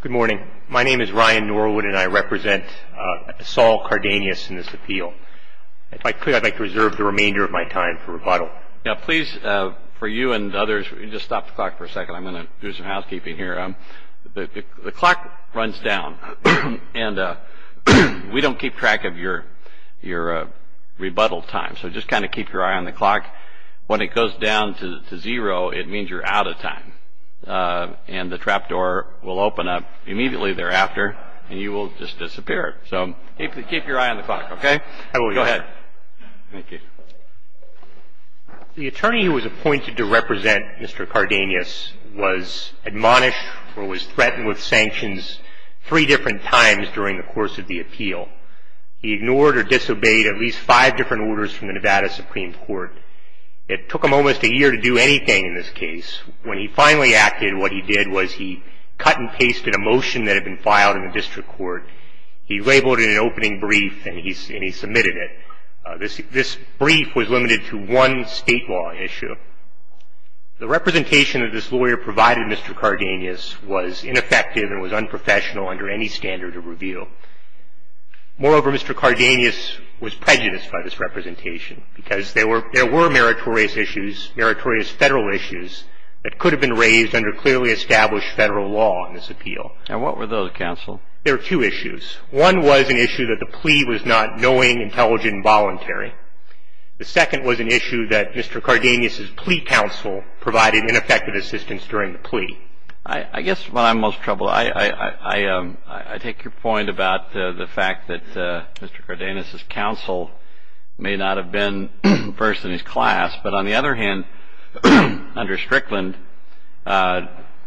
Good morning. My name is Ryan Norwood, and I represent Esaul Cardenas in this appeal. If I could, I'd like to reserve the remainder of my time for rebuttal. Please, for you and others, just stop the clock for a second. I'm going to do some housekeeping here. The clock runs down, and we don't keep track of your rebuttal time, so just kind of keep your eye on the clock. When it goes down to zero, it means you're out of time. And the trap door will open up immediately thereafter, and you will just disappear. So keep your eye on the clock, okay? I will, Your Honor. Go ahead. Thank you. The attorney who was appointed to represent Mr. Cardenas was admonished or was threatened with sanctions three different times during the course of the appeal. He ignored or disobeyed at least five different orders from the Nevada Supreme Court. It took him almost a year to do anything in this case. When he finally acted, what he did was he cut and pasted a motion that had been filed in the district court. He labeled it an opening brief, and he submitted it. This brief was limited to one state law issue. The representation that this lawyer provided Mr. Cardenas was ineffective and was unprofessional under any standard of review. Moreover, Mr. Cardenas was prejudiced by this representation because there were meritorious issues, meritorious Federal issues that could have been raised under clearly established Federal law in this appeal. And what were those, counsel? There were two issues. The second was an issue that Mr. Cardenas' plea counsel provided ineffective assistance during the plea. I guess what I'm most troubled, I take your point about the fact that Mr. Cardenas' counsel may not have been first in his class, but on the other hand, under Strickland,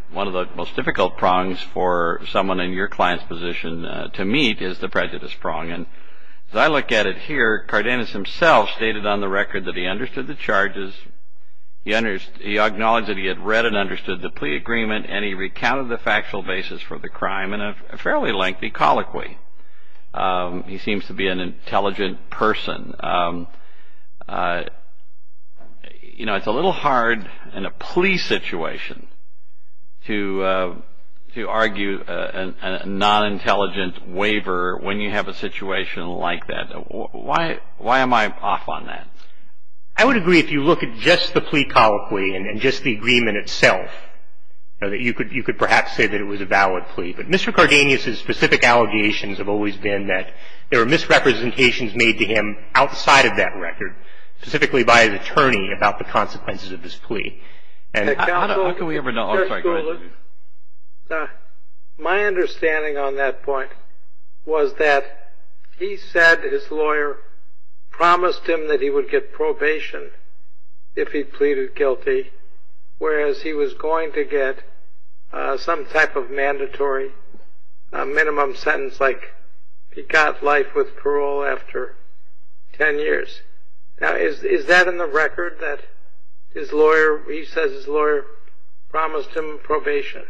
one of the most difficult prongs for someone in your client's position to meet is the prejudice prong. And as I look at it here, Cardenas himself stated on the record that he understood the charges, he acknowledged that he had read and understood the plea agreement, and he recounted the factual basis for the crime in a fairly lengthy colloquy. He seems to be an intelligent person. You know, it's a little hard in a plea situation to argue a non-intelligent waiver when you have a situation like that. Why am I off on that? I would agree if you look at just the plea colloquy and just the agreement itself, that you could perhaps say that it was a valid plea. But Mr. Cardenas' specific allegations have always been that there were misrepresentations made to him outside of that record, specifically by his attorney about the consequences of his plea. And how can we ever know? My understanding on that point was that he said his lawyer promised him that he would get probation if he pleaded guilty, whereas he was going to get some type of mandatory minimum sentence like he got life with parole after 10 years. Now, is that in the record that his lawyer, he says his lawyer promised him probation?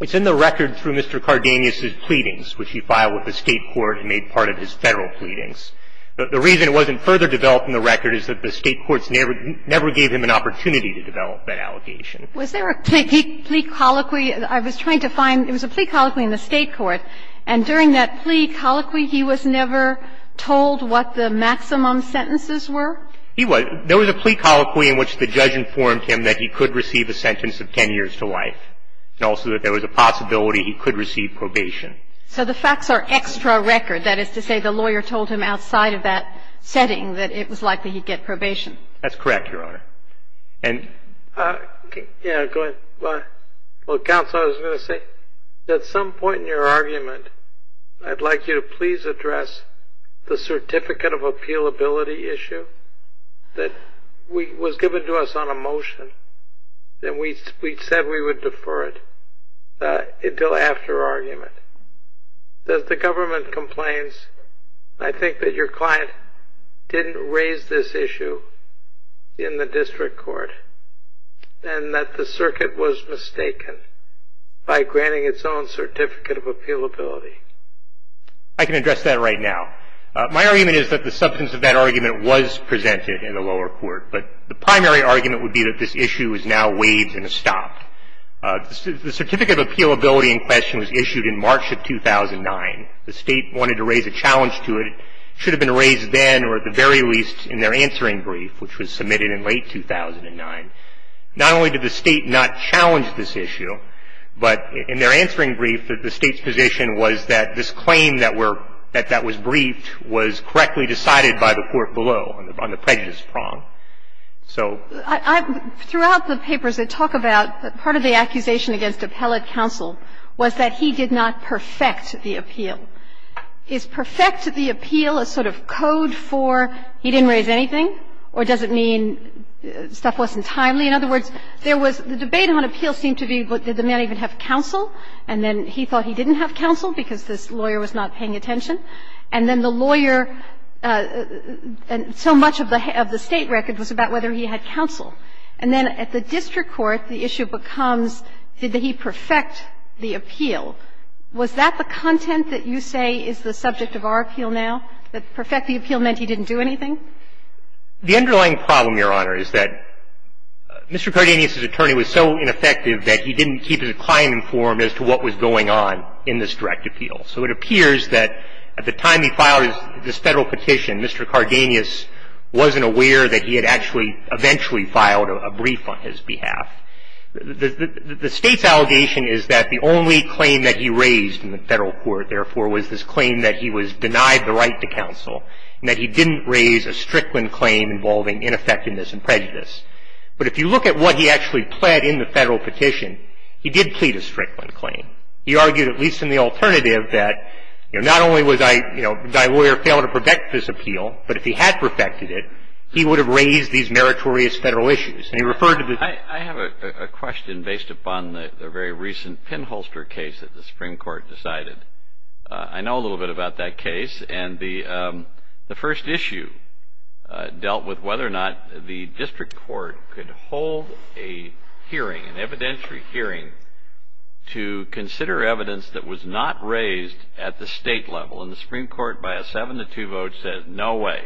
It's in the record through Mr. Cardenas' pleadings, which he filed with the state court and made part of his federal pleadings. The reason it wasn't further developed in the record is that the state courts never gave him an opportunity to develop that allegation. Was there a plea colloquy? I was trying to find. There was a plea colloquy in the state court. And during that plea colloquy, he was never told what the maximum sentences were? He was. There was a plea colloquy in which the judge informed him that he could receive a sentence of 10 years to life, and also that there was a possibility he could receive probation. So the facts are extra record. That is to say the lawyer told him outside of that setting that it was likely he'd get probation. That's correct, Your Honor. Yeah, go ahead. Well, Counsel, I was going to say, at some point in your argument, I'd like you to please address the certificate of appealability issue that was given to us on a motion, and we said we would defer it until after argument. As the government complains, I think that your client didn't raise this issue in the district court, and that the circuit was mistaken by granting its own certificate of appealability. I can address that right now. My argument is that the substance of that argument was presented in the lower court, but the primary argument would be that this issue is now waived and stopped. The certificate of appealability in question was issued in March of 2009. The State wanted to raise a challenge to it. It should have been raised then or at the very least in their answering brief, which was submitted in late 2009. Not only did the State not challenge this issue, but in their answering brief, the State's position was that this claim that were — that was briefed was correctly decided by the court below on the prejudice prong. So — Throughout the papers, they talk about part of the accusation against appellate counsel was that he did not perfect the appeal. Is perfect the appeal a sort of code for he didn't raise anything, or does it mean stuff wasn't timely? In other words, there was — the debate on appeal seemed to be did the man even have counsel, and then he thought he didn't have counsel because this lawyer was not paying attention, and then the lawyer — so much of the State record was about whether he had counsel. And then at the district court, the issue becomes did he perfect the appeal. Was that the content that you say is the subject of our appeal now? That perfect the appeal meant he didn't do anything? The underlying problem, Your Honor, is that Mr. Cardenas' attorney was so ineffective that he didn't keep his client informed as to what was going on in this direct appeal. So it appears that at the time he filed this Federal petition, Mr. Cardenas wasn't aware that he had actually — eventually filed a brief on his behalf. The State's allegation is that the only claim that he raised in the Federal court, therefore, was this claim that he was denied the right to counsel and that he didn't raise a Strickland claim involving ineffectiveness and prejudice. But if you look at what he actually pled in the Federal petition, he did plead a Strickland claim. He argued, at least in the alternative, that, you know, not only was I — you know, did I lawyer fail to perfect this appeal, but if he had perfected it, he would have raised these meritorious Federal issues. And he referred to the — I have a question based upon the very recent pinholster case that the Supreme Court decided. I know a little bit about that case. And the first issue dealt with whether or not the District Court could hold a hearing, an evidentiary hearing, to consider evidence that was not raised at the State level. And the Supreme Court, by a 7-2 vote, said no way.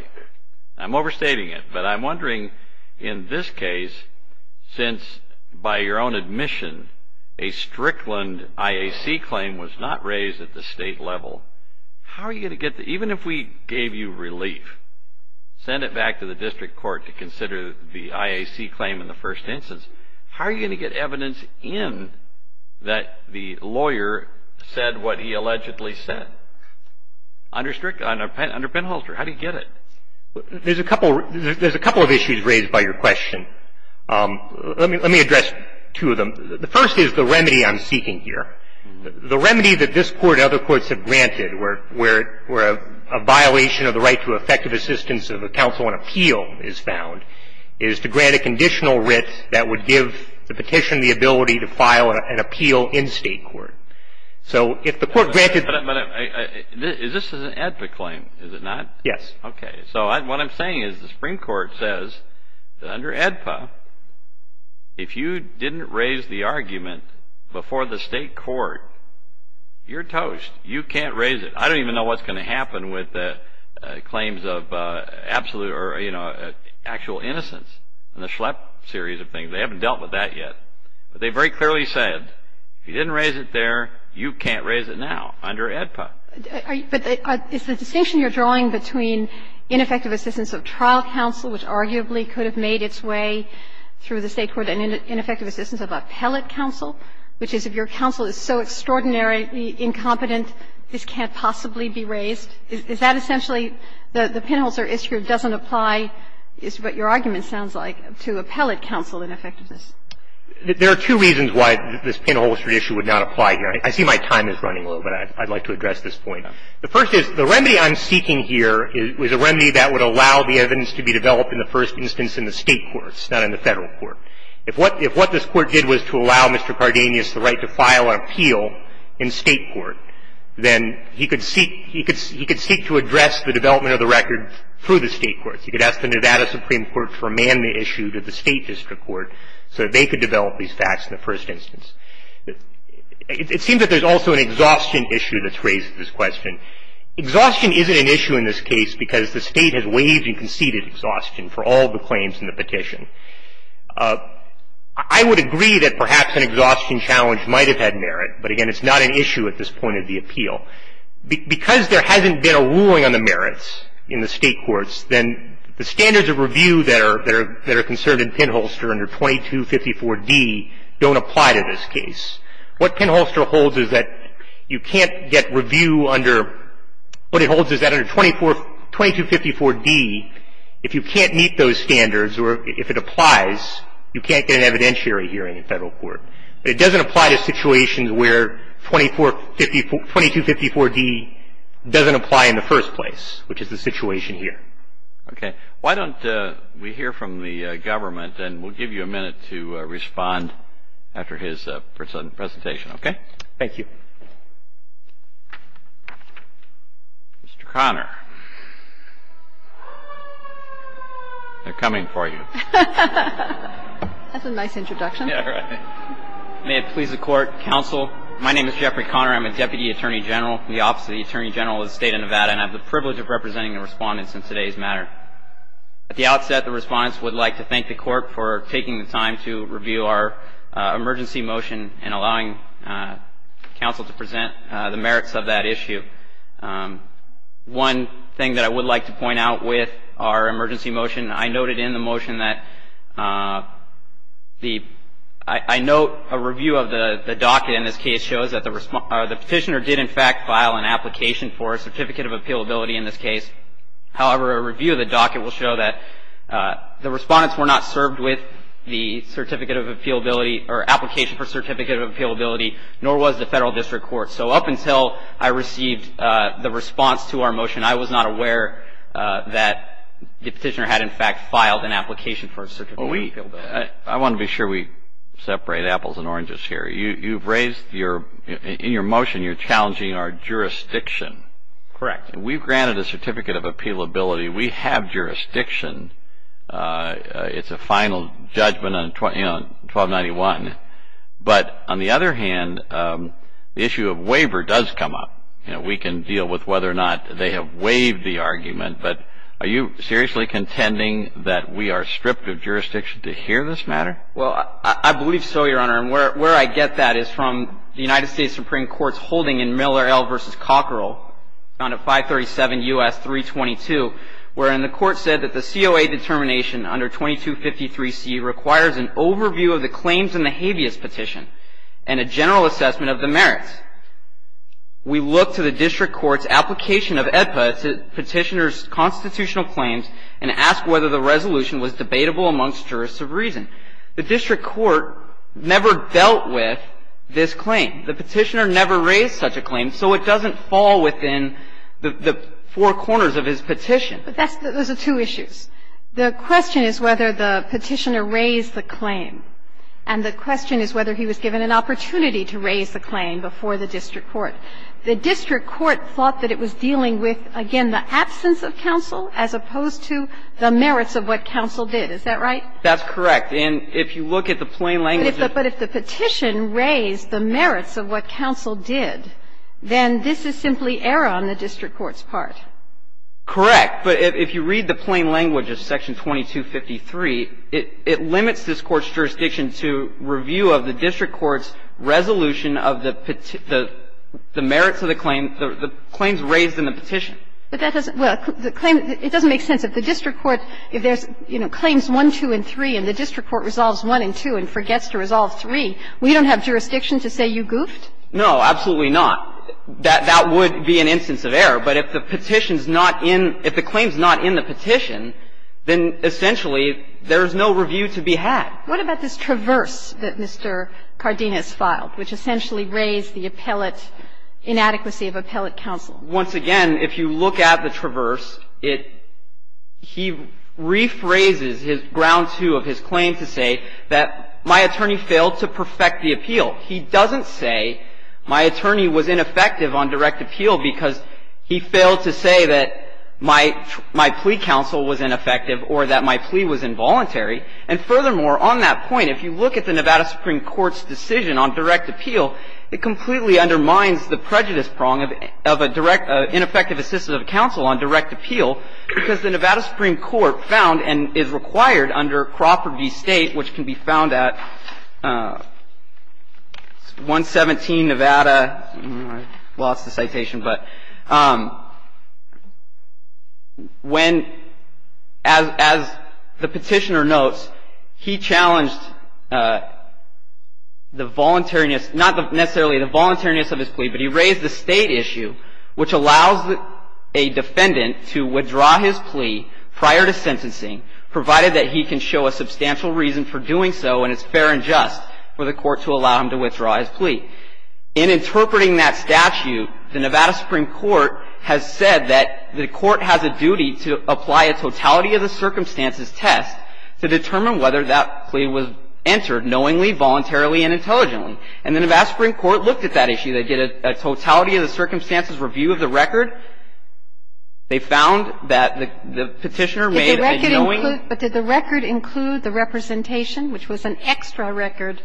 I'm overstating it. But I'm wondering, in this case, since, by your own admission, a Strickland IAC claim was not raised at the State level, how are you going to get the — even if we gave you relief, sent it back to the District Court to consider the IAC claim in the first instance, how are you going to get evidence in that the lawyer said what he allegedly said under pinholster? How do you get it? There's a couple of issues raised by your question. Let me address two of them. The first is the remedy I'm seeking here. The remedy that this Court and other courts have granted, where a violation of the right to effective assistance of a counsel on appeal is found, is to grant a conditional writ that would give the petition the ability to file an appeal in State court. So if the court granted — But is this an AEDPA claim? Is it not? Yes. Okay. So what I'm saying is the Supreme Court says that under AEDPA, if you didn't raise the argument before the State court, you're toast. You can't raise it. I don't even know what's going to happen with claims of absolute or, you know, actual innocence in the Schlepp series of things. They haven't dealt with that yet. But they very clearly said, if you didn't raise it there, you can't raise it now under AEDPA. But is the distinction you're drawing between ineffective assistance of trial counsel, which arguably could have made its way through the State court, and ineffective assistance of appellate counsel, which is, if your counsel is so extraordinarily incompetent, this can't possibly be raised, is that essentially the pinhole or issue doesn't apply, is what your argument sounds like, to appellate counsel in effectiveness? There are two reasons why this pinhole issue would not apply here. I see my time is running low, but I'd like to address this point. The first is, the remedy I'm seeking here is a remedy that would allow the evidence to be developed in the first instance in the State courts, not in the Federal court. If what this Court did was to allow Mr. Cardenas the right to file an appeal in State court, then he could seek to address the development of the record through the State courts. He could ask the Nevada Supreme Court to remand the issue to the State district court so that they could develop these facts in the first instance. It seems that there's also an exhaustion issue that's raised at this question. Exhaustion isn't an issue in this case because the State has waived and conceded exhaustion for all the claims in the petition. I would agree that perhaps an exhaustion challenge might have had merit, but, again, it's not an issue at this point of the appeal. Because there hasn't been a ruling on the merits in the State courts, then the standards of review that are concerned in pinholster under 2254d don't apply to this case. What pinholster holds is that you can't get review under, what it holds is that under 2254d, if you can't meet those standards or if it applies, you can't get an evidentiary hearing in Federal court. But it doesn't apply to situations where 2254d doesn't apply in the first place, which is the situation here. Okay. Why don't we hear from the government, and we'll give you a minute to respond after his presentation, okay? Thank you. Mr. Conner. They're coming for you. That's a nice introduction. May it please the Court, Counsel. My name is Jeffrey Conner. I'm a Deputy Attorney General in the Office of the Attorney General of the State of Nevada, and I have the privilege of representing the Respondents in today's matter. At the outset, the Respondents would like to thank the Court for taking the time to present the merits of that issue. One thing that I would like to point out with our emergency motion, I noted in the motion that the, I note a review of the docket in this case shows that the Petitioner did in fact file an application for a Certificate of Appealability in this case. However, a review of the docket will show that the Respondents were not served with the Certificate of Appealability or application for Certificate of Appealability, nor was the Federal District Court. So up until I received the response to our motion, I was not aware that the Petitioner had in fact filed an application for a Certificate of Appealability. I want to be sure we separate apples and oranges here. You've raised your, in your motion, you're challenging our jurisdiction. Correct. We've granted a Certificate of Appealability. We have jurisdiction. It's a final judgment on 1291. But on the other hand, the issue of waiver does come up. You know, we can deal with whether or not they have waived the argument, but are you seriously contending that we are stripped of jurisdiction to hear this matter? Well, I believe so, Your Honor. And where I get that is from the United States Supreme Court's holding in Miller L. versus Cockerell, found at 537 U.S. 322, wherein the Court said that the COA determination under 2253C requires an overview of the claims in the habeas petition and a general assessment of the merits. We look to the District Court's application of AEDPA to Petitioner's constitutional claims and ask whether the resolution was debatable amongst jurists of reason. The District Court never dealt with this claim. The Petitioner never raised such a claim, so it doesn't fall within the four corners of his petition. But that's the two issues. The question is whether the Petitioner raised the claim, and the question is whether he was given an opportunity to raise the claim before the District Court. The District Court thought that it was dealing with, again, the absence of counsel as opposed to the merits of what counsel did. Is that right? That's correct. And if you look at the plain language of it. But if the petition raised the merits of what counsel did, then this is simply error on the District Court's part. Correct. But if you read the plain language of section 2253, it limits this Court's jurisdiction to review of the District Court's resolution of the merits of the claim, the claims raised in the petition. But that doesn't – well, the claim – it doesn't make sense. If the District Court – if there's, you know, claims 1, 2, and 3, and the District Court doesn't resolve 3, we don't have jurisdiction to say you goofed? No, absolutely not. That would be an instance of error. But if the petition's not in – if the claim's not in the petition, then essentially there is no review to be had. What about this traverse that Mr. Cardenas filed, which essentially raised the appellate – inadequacy of appellate counsel? Once again, if you look at the traverse, it – he rephrases his ground 2 of his claim to say that my attorney failed to perfect the appeal. He doesn't say my attorney was ineffective on direct appeal because he failed to say that my – my plea counsel was ineffective or that my plea was involuntary. And furthermore, on that point, if you look at the Nevada Supreme Court's decision on direct appeal, it completely undermines the prejudice prong of a direct – ineffective assistant of counsel on direct appeal because the Nevada Supreme Court found and is a state, which can be found at 117 Nevada – I lost the citation, but – when, as the petitioner notes, he challenged the voluntariness – not necessarily the voluntariness of his plea, but he raised the state issue, which allows a defendant to withdraw his plea prior to sentencing, provided that he can show a substantial reason for doing so and it's fair and just for the court to allow him to withdraw his plea. In interpreting that statute, the Nevada Supreme Court has said that the court has a duty to apply a totality of the circumstances test to determine whether that plea was entered knowingly, voluntarily, and intelligently. And the Nevada Supreme Court looked at that issue. They did a totality of the circumstances review of the record. They found that the petitioner made a knowing – But did the record include the representation, which was an extra record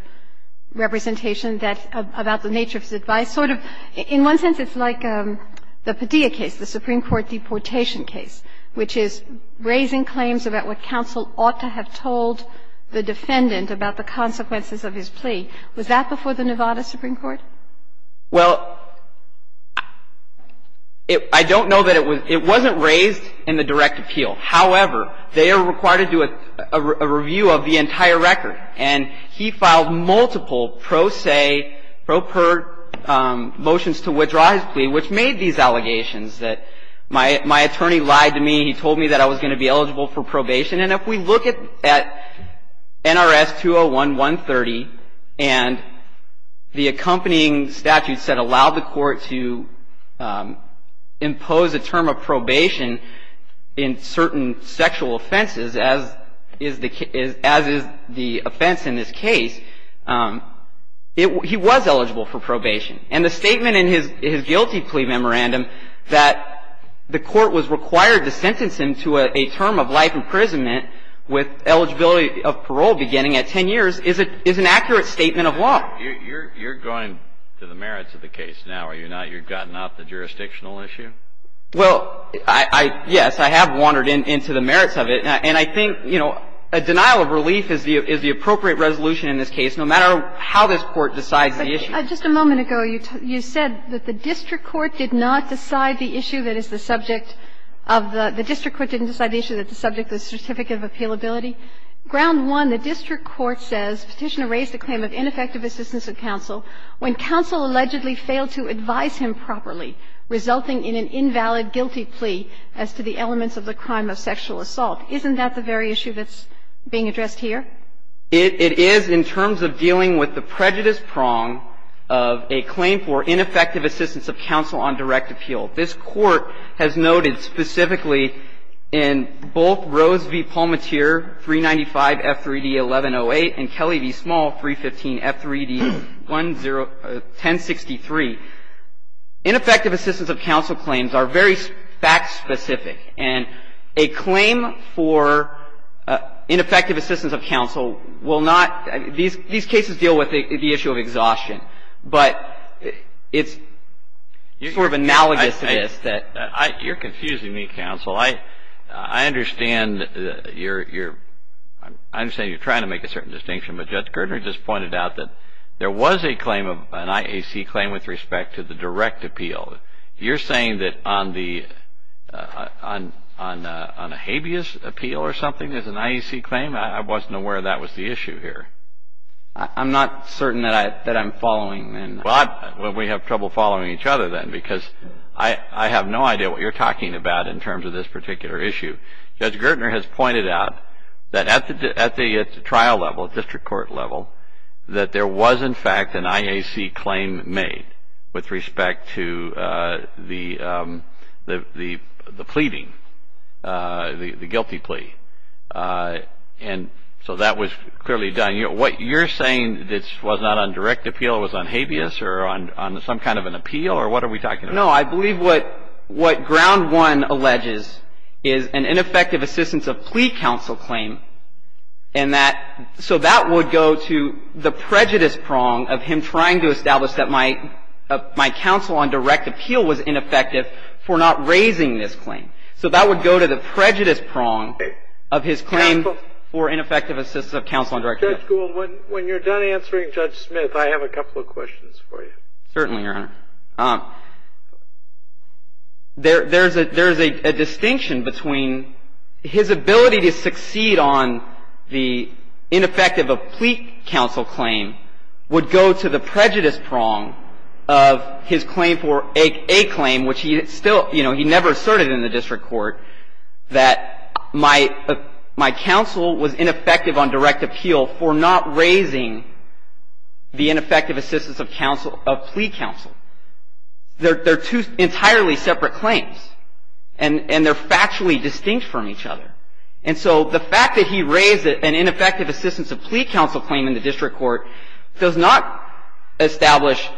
representation that – about the nature of his advice? Sort of – in one sense, it's like the Padilla case, the Supreme Court deportation case, which is raising claims about what counsel ought to have told the defendant about the consequences of his plea. Was that before the Nevada Supreme Court? Well, I don't know that it was – it wasn't raised in the direct appeal. However, they are required to do a review of the entire record. And he filed multiple pro se, pro per motions to withdraw his plea, which made these allegations that my attorney lied to me. He told me that I was going to be eligible for probation. And if we look at NRS 201-130 and the accompanying statutes that allow the court to impose a term of probation in certain sexual offenses, as is the offense in this case, he was eligible for probation. And the statement in his guilty plea memorandum that the court was required to sentence him to a term of life imprisonment with eligibility of parole beginning at 10 years is an accurate statement of law. You're going to the merits of the case now, are you not? You've gotten off the jurisdictional issue? Well, yes, I have wandered into the merits of it. And I think, you know, a denial of relief is the appropriate resolution in this case, no matter how this Court decides the issue. Just a moment ago, you said that the district court did not decide the issue that is the subject of the certificate of appealability. Ground one, the district court says Petitioner raised a claim of ineffective assistance of counsel when counsel allegedly failed to advise him properly, resulting in an invalid guilty plea as to the elements of the crime of sexual assault. Isn't that the very issue that's being addressed here? It is in terms of dealing with the prejudice prong of a claim for ineffective assistance of counsel on direct appeal. This Court has noted specifically in both Rose v. Palmatier 395F3D1108 and Kelly v. Small 315F3D1063, ineffective assistance of counsel claims are very fact-specific. And a claim for ineffective assistance of counsel will not – these cases deal with the issue of exhaustion. But it's sort of analogous to this. You're confusing me, counsel. I understand you're trying to make a certain distinction, but Judge Girdner just pointed out that there was a claim, an IAC claim, with respect to the direct appeal. You're saying that on a habeas appeal or something, there's an IAC claim? I wasn't aware that was the issue here. I'm not certain that I'm following. Well, we have trouble following each other then because I have no idea what you're talking about in terms of this particular issue. Judge Girdner has pointed out that at the trial level, at district court level, that there was, in fact, an IAC claim made with respect to the pleading, the guilty plea. And so that was clearly done. What you're saying was not on direct appeal. It was on habeas or on some kind of an appeal? Or what are we talking about? No. I believe what Ground One alleges is an ineffective assistance of plea counsel claim. And that – so that would go to the prejudice prong of him trying to establish that my counsel on direct appeal was ineffective for not raising this claim. So that would go to the prejudice prong of his claim for ineffective assistance of counsel on direct appeal. Judge Gould, when you're done answering Judge Smith, I have a couple of questions for you. Certainly, Your Honor. There's a distinction between his ability to succeed on the ineffective of plea counsel claim would go to the prejudice that my counsel was ineffective on direct appeal for not raising the ineffective assistance of plea counsel. They're two entirely separate claims. And they're factually distinct from each other. And so the fact that he raised an ineffective assistance of plea counsel claim in the district court does not establish,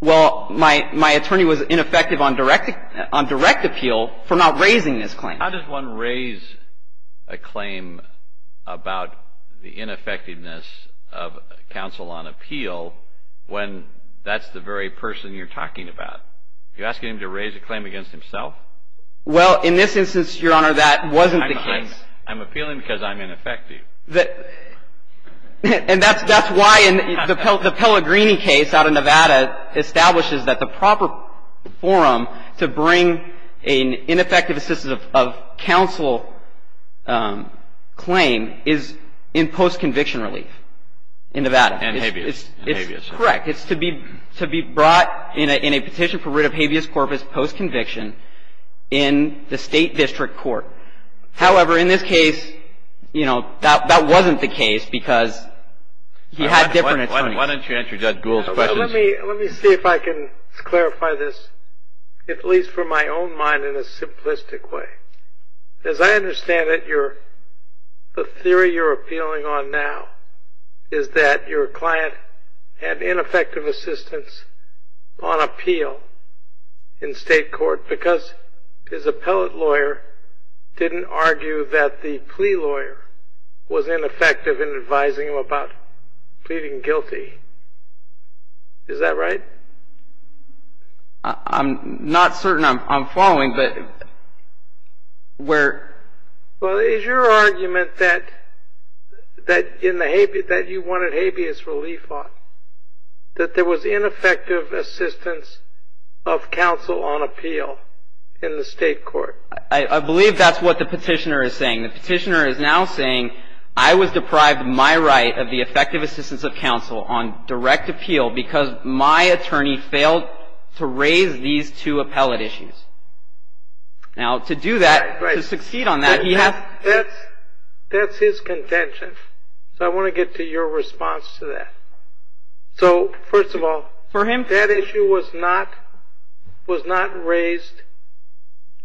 well, my attorney was ineffective on direct appeal for not raising this claim. How does one raise a claim about the ineffectiveness of counsel on appeal when that's the very person you're talking about? You're asking him to raise a claim against himself? Well, in this instance, Your Honor, that wasn't the case. I'm appealing because I'm ineffective. And that's why the Pellegrini case out of Nevada establishes that the proper forum to bring an ineffective assistance of counsel claim is in post-conviction relief in Nevada. In habeas. It's correct. It's to be brought in a petition for writ of habeas corpus post-conviction in the state district court. However, in this case, you know, that wasn't the case because he had different attorneys. Why don't you answer Judge Gould's question? Let me see if I can clarify this, at least from my own mind, in a simplistic way. As I understand it, the theory you're appealing on now is that your client had ineffective assistance on appeal in state court because his appellate lawyer didn't argue that the plea lawyer was ineffective in advising him about pleading guilty. Is that right? I'm not certain I'm following, but where? Well, is your argument that you wanted habeas relief on, that there was ineffective assistance of counsel on appeal in the state court? I believe that's what the petitioner is saying. The petitioner is now saying I was deprived of my right of the effective assistance of counsel on direct appeal because my attorney failed to raise these two appellate issues. Now, to do that, to succeed on that, he has to... That's his contention, so I want to get to your response to that. So, first of all, that issue was not raised...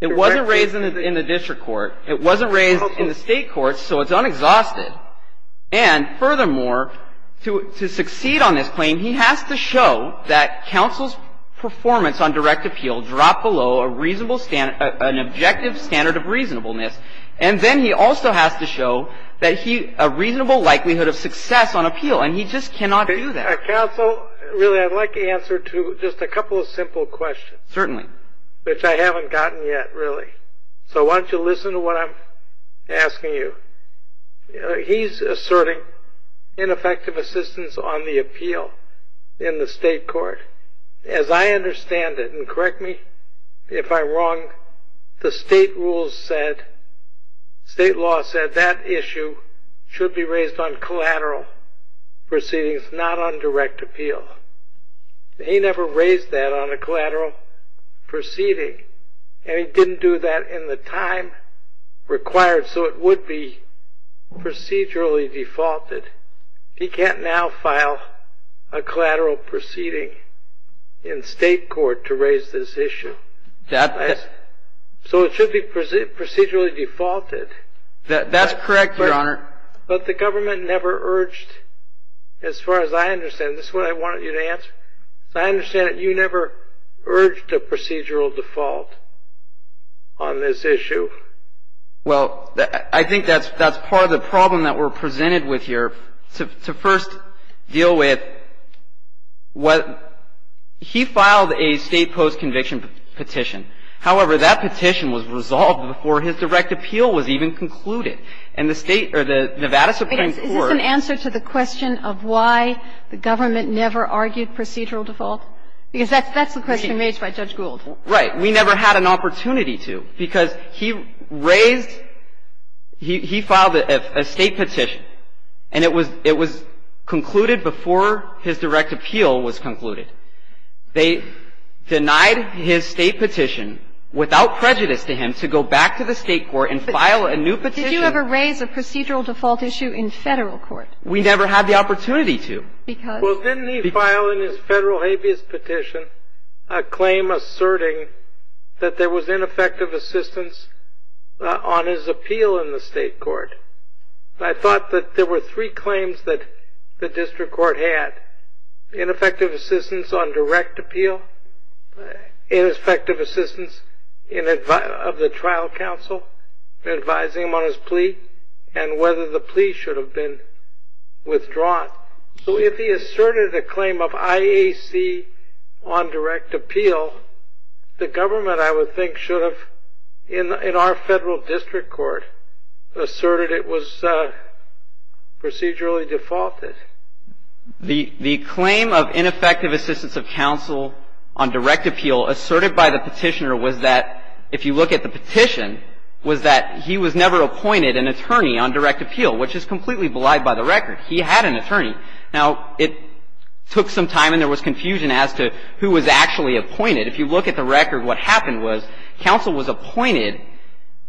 It wasn't raised in the district court. It wasn't raised in the state court, so it's unexhausted. And furthermore, to succeed on this claim, he has to show that counsel's performance on direct appeal dropped below a reasonable standard, an objective standard of reasonableness. And then he also has to show a reasonable likelihood of success on appeal, and he just cannot do that. Counsel, really, I'd like the answer to just a couple of simple questions. Certainly. Which I haven't gotten yet, really. So why don't you listen to what I'm asking you. He's asserting ineffective assistance on the appeal in the state court. As I understand it, and correct me if I'm wrong, the state rules said, state law said, that issue should be raised on collateral proceedings, not on direct appeal. He never raised that on a collateral proceeding, and he didn't do that in the time required, so it would be procedurally defaulted. He can't now file a collateral proceeding in state court to raise this issue. So it should be procedurally defaulted. That's correct, Your Honor. But the government never urged, as far as I understand, this is what I wanted you to answer. As I understand it, you never urged a procedural default on this issue. Well, I think that's part of the problem that we're presented with here. To first deal with what he filed a state post-conviction petition. However, that petition was resolved before his direct appeal was even concluded. And the state, or the Nevada Supreme Court. Is this an answer to the question of why the government never argued procedural default? Because that's the question raised by Judge Gould. Right. We never had an opportunity to, because he raised, he filed a state petition, and it was concluded before his direct appeal was concluded. They denied his state petition without prejudice to him to go back to the state court and file a new petition. Did you ever raise a procedural default issue in Federal court? We never had the opportunity to. Well, didn't he file in his Federal habeas petition a claim asserting that there was ineffective assistance on his appeal in the state court? I thought that there were three claims that the district court had. Ineffective assistance on direct appeal, ineffective assistance of the trial counsel, advising him on his plea, and whether the plea should have been withdrawn. So if he asserted a claim of IAC on direct appeal, the government, I would think, should have, in our Federal district court, asserted it was procedurally defaulted. The claim of ineffective assistance of counsel on direct appeal asserted by the petitioner was that, if you look at the petition, was that he was never appointed an attorney on direct appeal, which is completely belied by the record. He had an attorney. Now, it took some time and there was confusion as to who was actually appointed. If you look at the record, what happened was counsel was appointed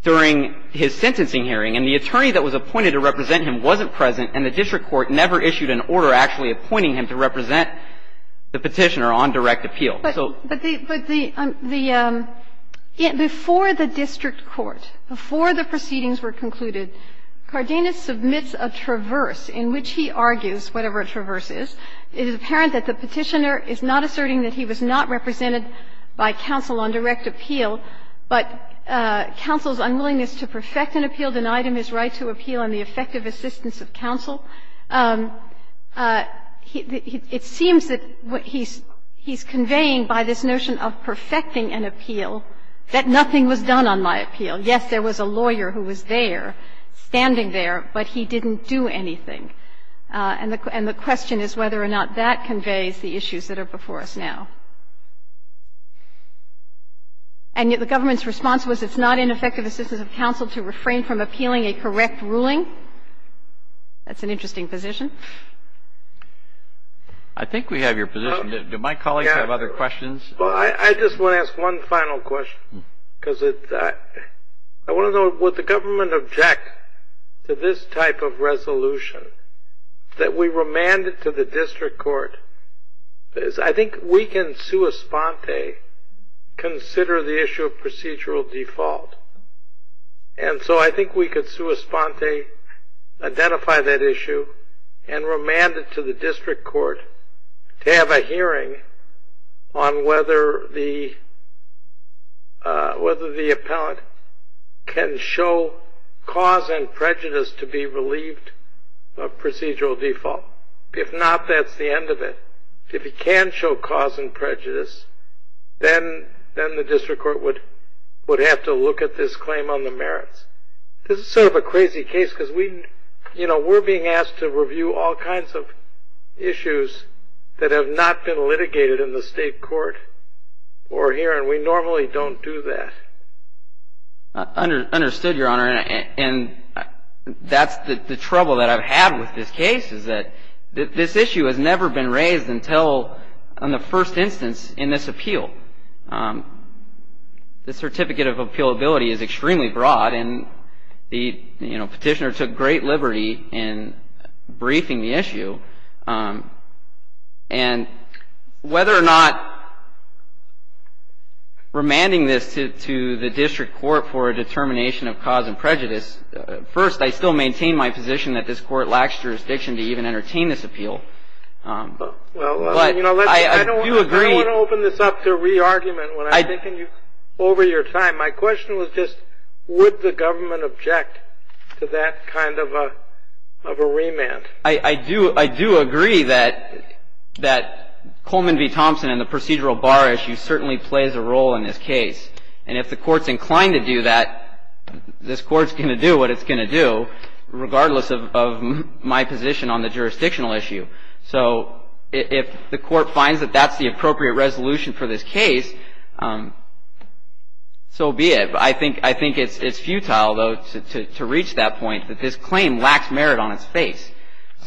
during his sentencing hearing, and the attorney that was appointed to represent him wasn't present, and the district court never issued an order actually appointing him to represent the petitioner on direct appeal. But the – before the district court, before the proceedings were concluded, Cardenas submits a traverse in which he argues, whatever a traverse is, it is apparent that the petitioner is not asserting that he was not represented by counsel on direct appeal, but counsel's unwillingness to perfect an appeal denied him his right to appeal on the effective assistance of counsel. It seems that what he's conveying by this notion of perfecting an appeal, that nothing was done on my appeal. Yes, there was a lawyer who was there, standing there, but he didn't do anything. And the question is whether or not that conveys the issues that are before us now. And yet the government's response was it's not in effective assistance of counsel to refrain from appealing a correct ruling. That's an interesting position. I think we have your position. Do my colleagues have other questions? Well, I just want to ask one final question, because I want to know, would the government object to this type of resolution that we remanded to the district court? I think we can sua sponte consider the issue of procedural default. And so I think we could sua sponte identify that issue and remand it to the district court to have a hearing on whether the appellant can show cause and prejudice to be relieved of procedural default. If not, that's the end of it. If he can show cause and prejudice, then the district court would have to look at this claim on the merits. This is sort of a crazy case, because we're being asked to review all kinds of issues that have not been litigated in the state court or here, and we normally don't do that. Understood, Your Honor. And that's the trouble that I've had with this case, is that this issue has never been raised until in the first instance in this appeal. The certificate of appealability is extremely broad, and the petitioner took great liberty in briefing the issue. And whether or not remanding this to the district court for a determination of cause and prejudice, first, I still maintain my position that this court lacks jurisdiction to even entertain this appeal. Well, you know, I don't want to open this up to re-argument over your time. My question was just would the government object to that kind of a remand? I do agree that Coleman v. Thompson and the procedural bar issue certainly plays a role in this case. And if the court's inclined to do that, this court's going to do what it's going to do, regardless of my position on the jurisdictional issue. So if the court finds that that's the appropriate resolution for this case, so be it. I think it's futile, though, to reach that point that this claim lacks merit on its face.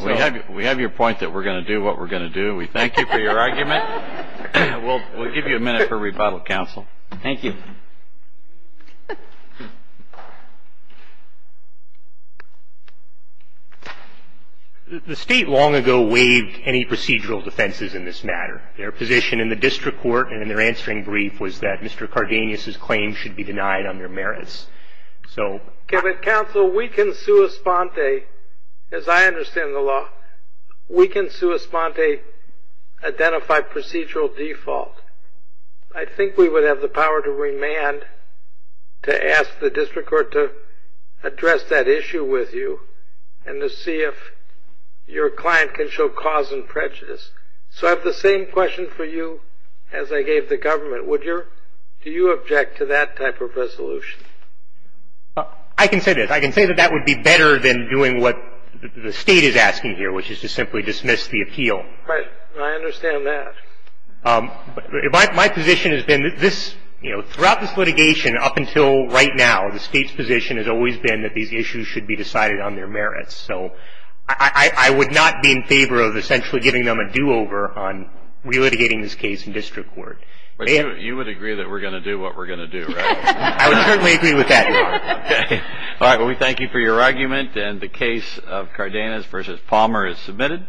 We have your point that we're going to do what we're going to do. We thank you for your argument. We'll give you a minute for rebuttal, counsel. Thank you. The state long ago waived any procedural defenses in this matter. Their position in the district court, and in their answering brief, was that Mr. Cardenas's claim should be denied under merits. Okay, but, counsel, we can sua sponte, as I understand the law, we can sua sponte identify procedural default. I think we would have the power to remand to ask the district court to address that issue with you and to see if your client can show cause and prejudice. So I have the same question for you as I gave the government. Do you object to that type of resolution? I can say this. I can say that that would be better than doing what the state is asking here, which is to simply dismiss the appeal. I understand that. My position has been that this, you know, throughout this litigation up until right now, the state's position has always been that these issues should be decided on their merits. So I would not be in favor of essentially giving them a do-over on relitigating this case in district court. But you would agree that we're going to do what we're going to do, right? I would certainly agree with that. Okay. All right, well, we thank you for your argument. And the case of Cardenas v. Palmer is submitted.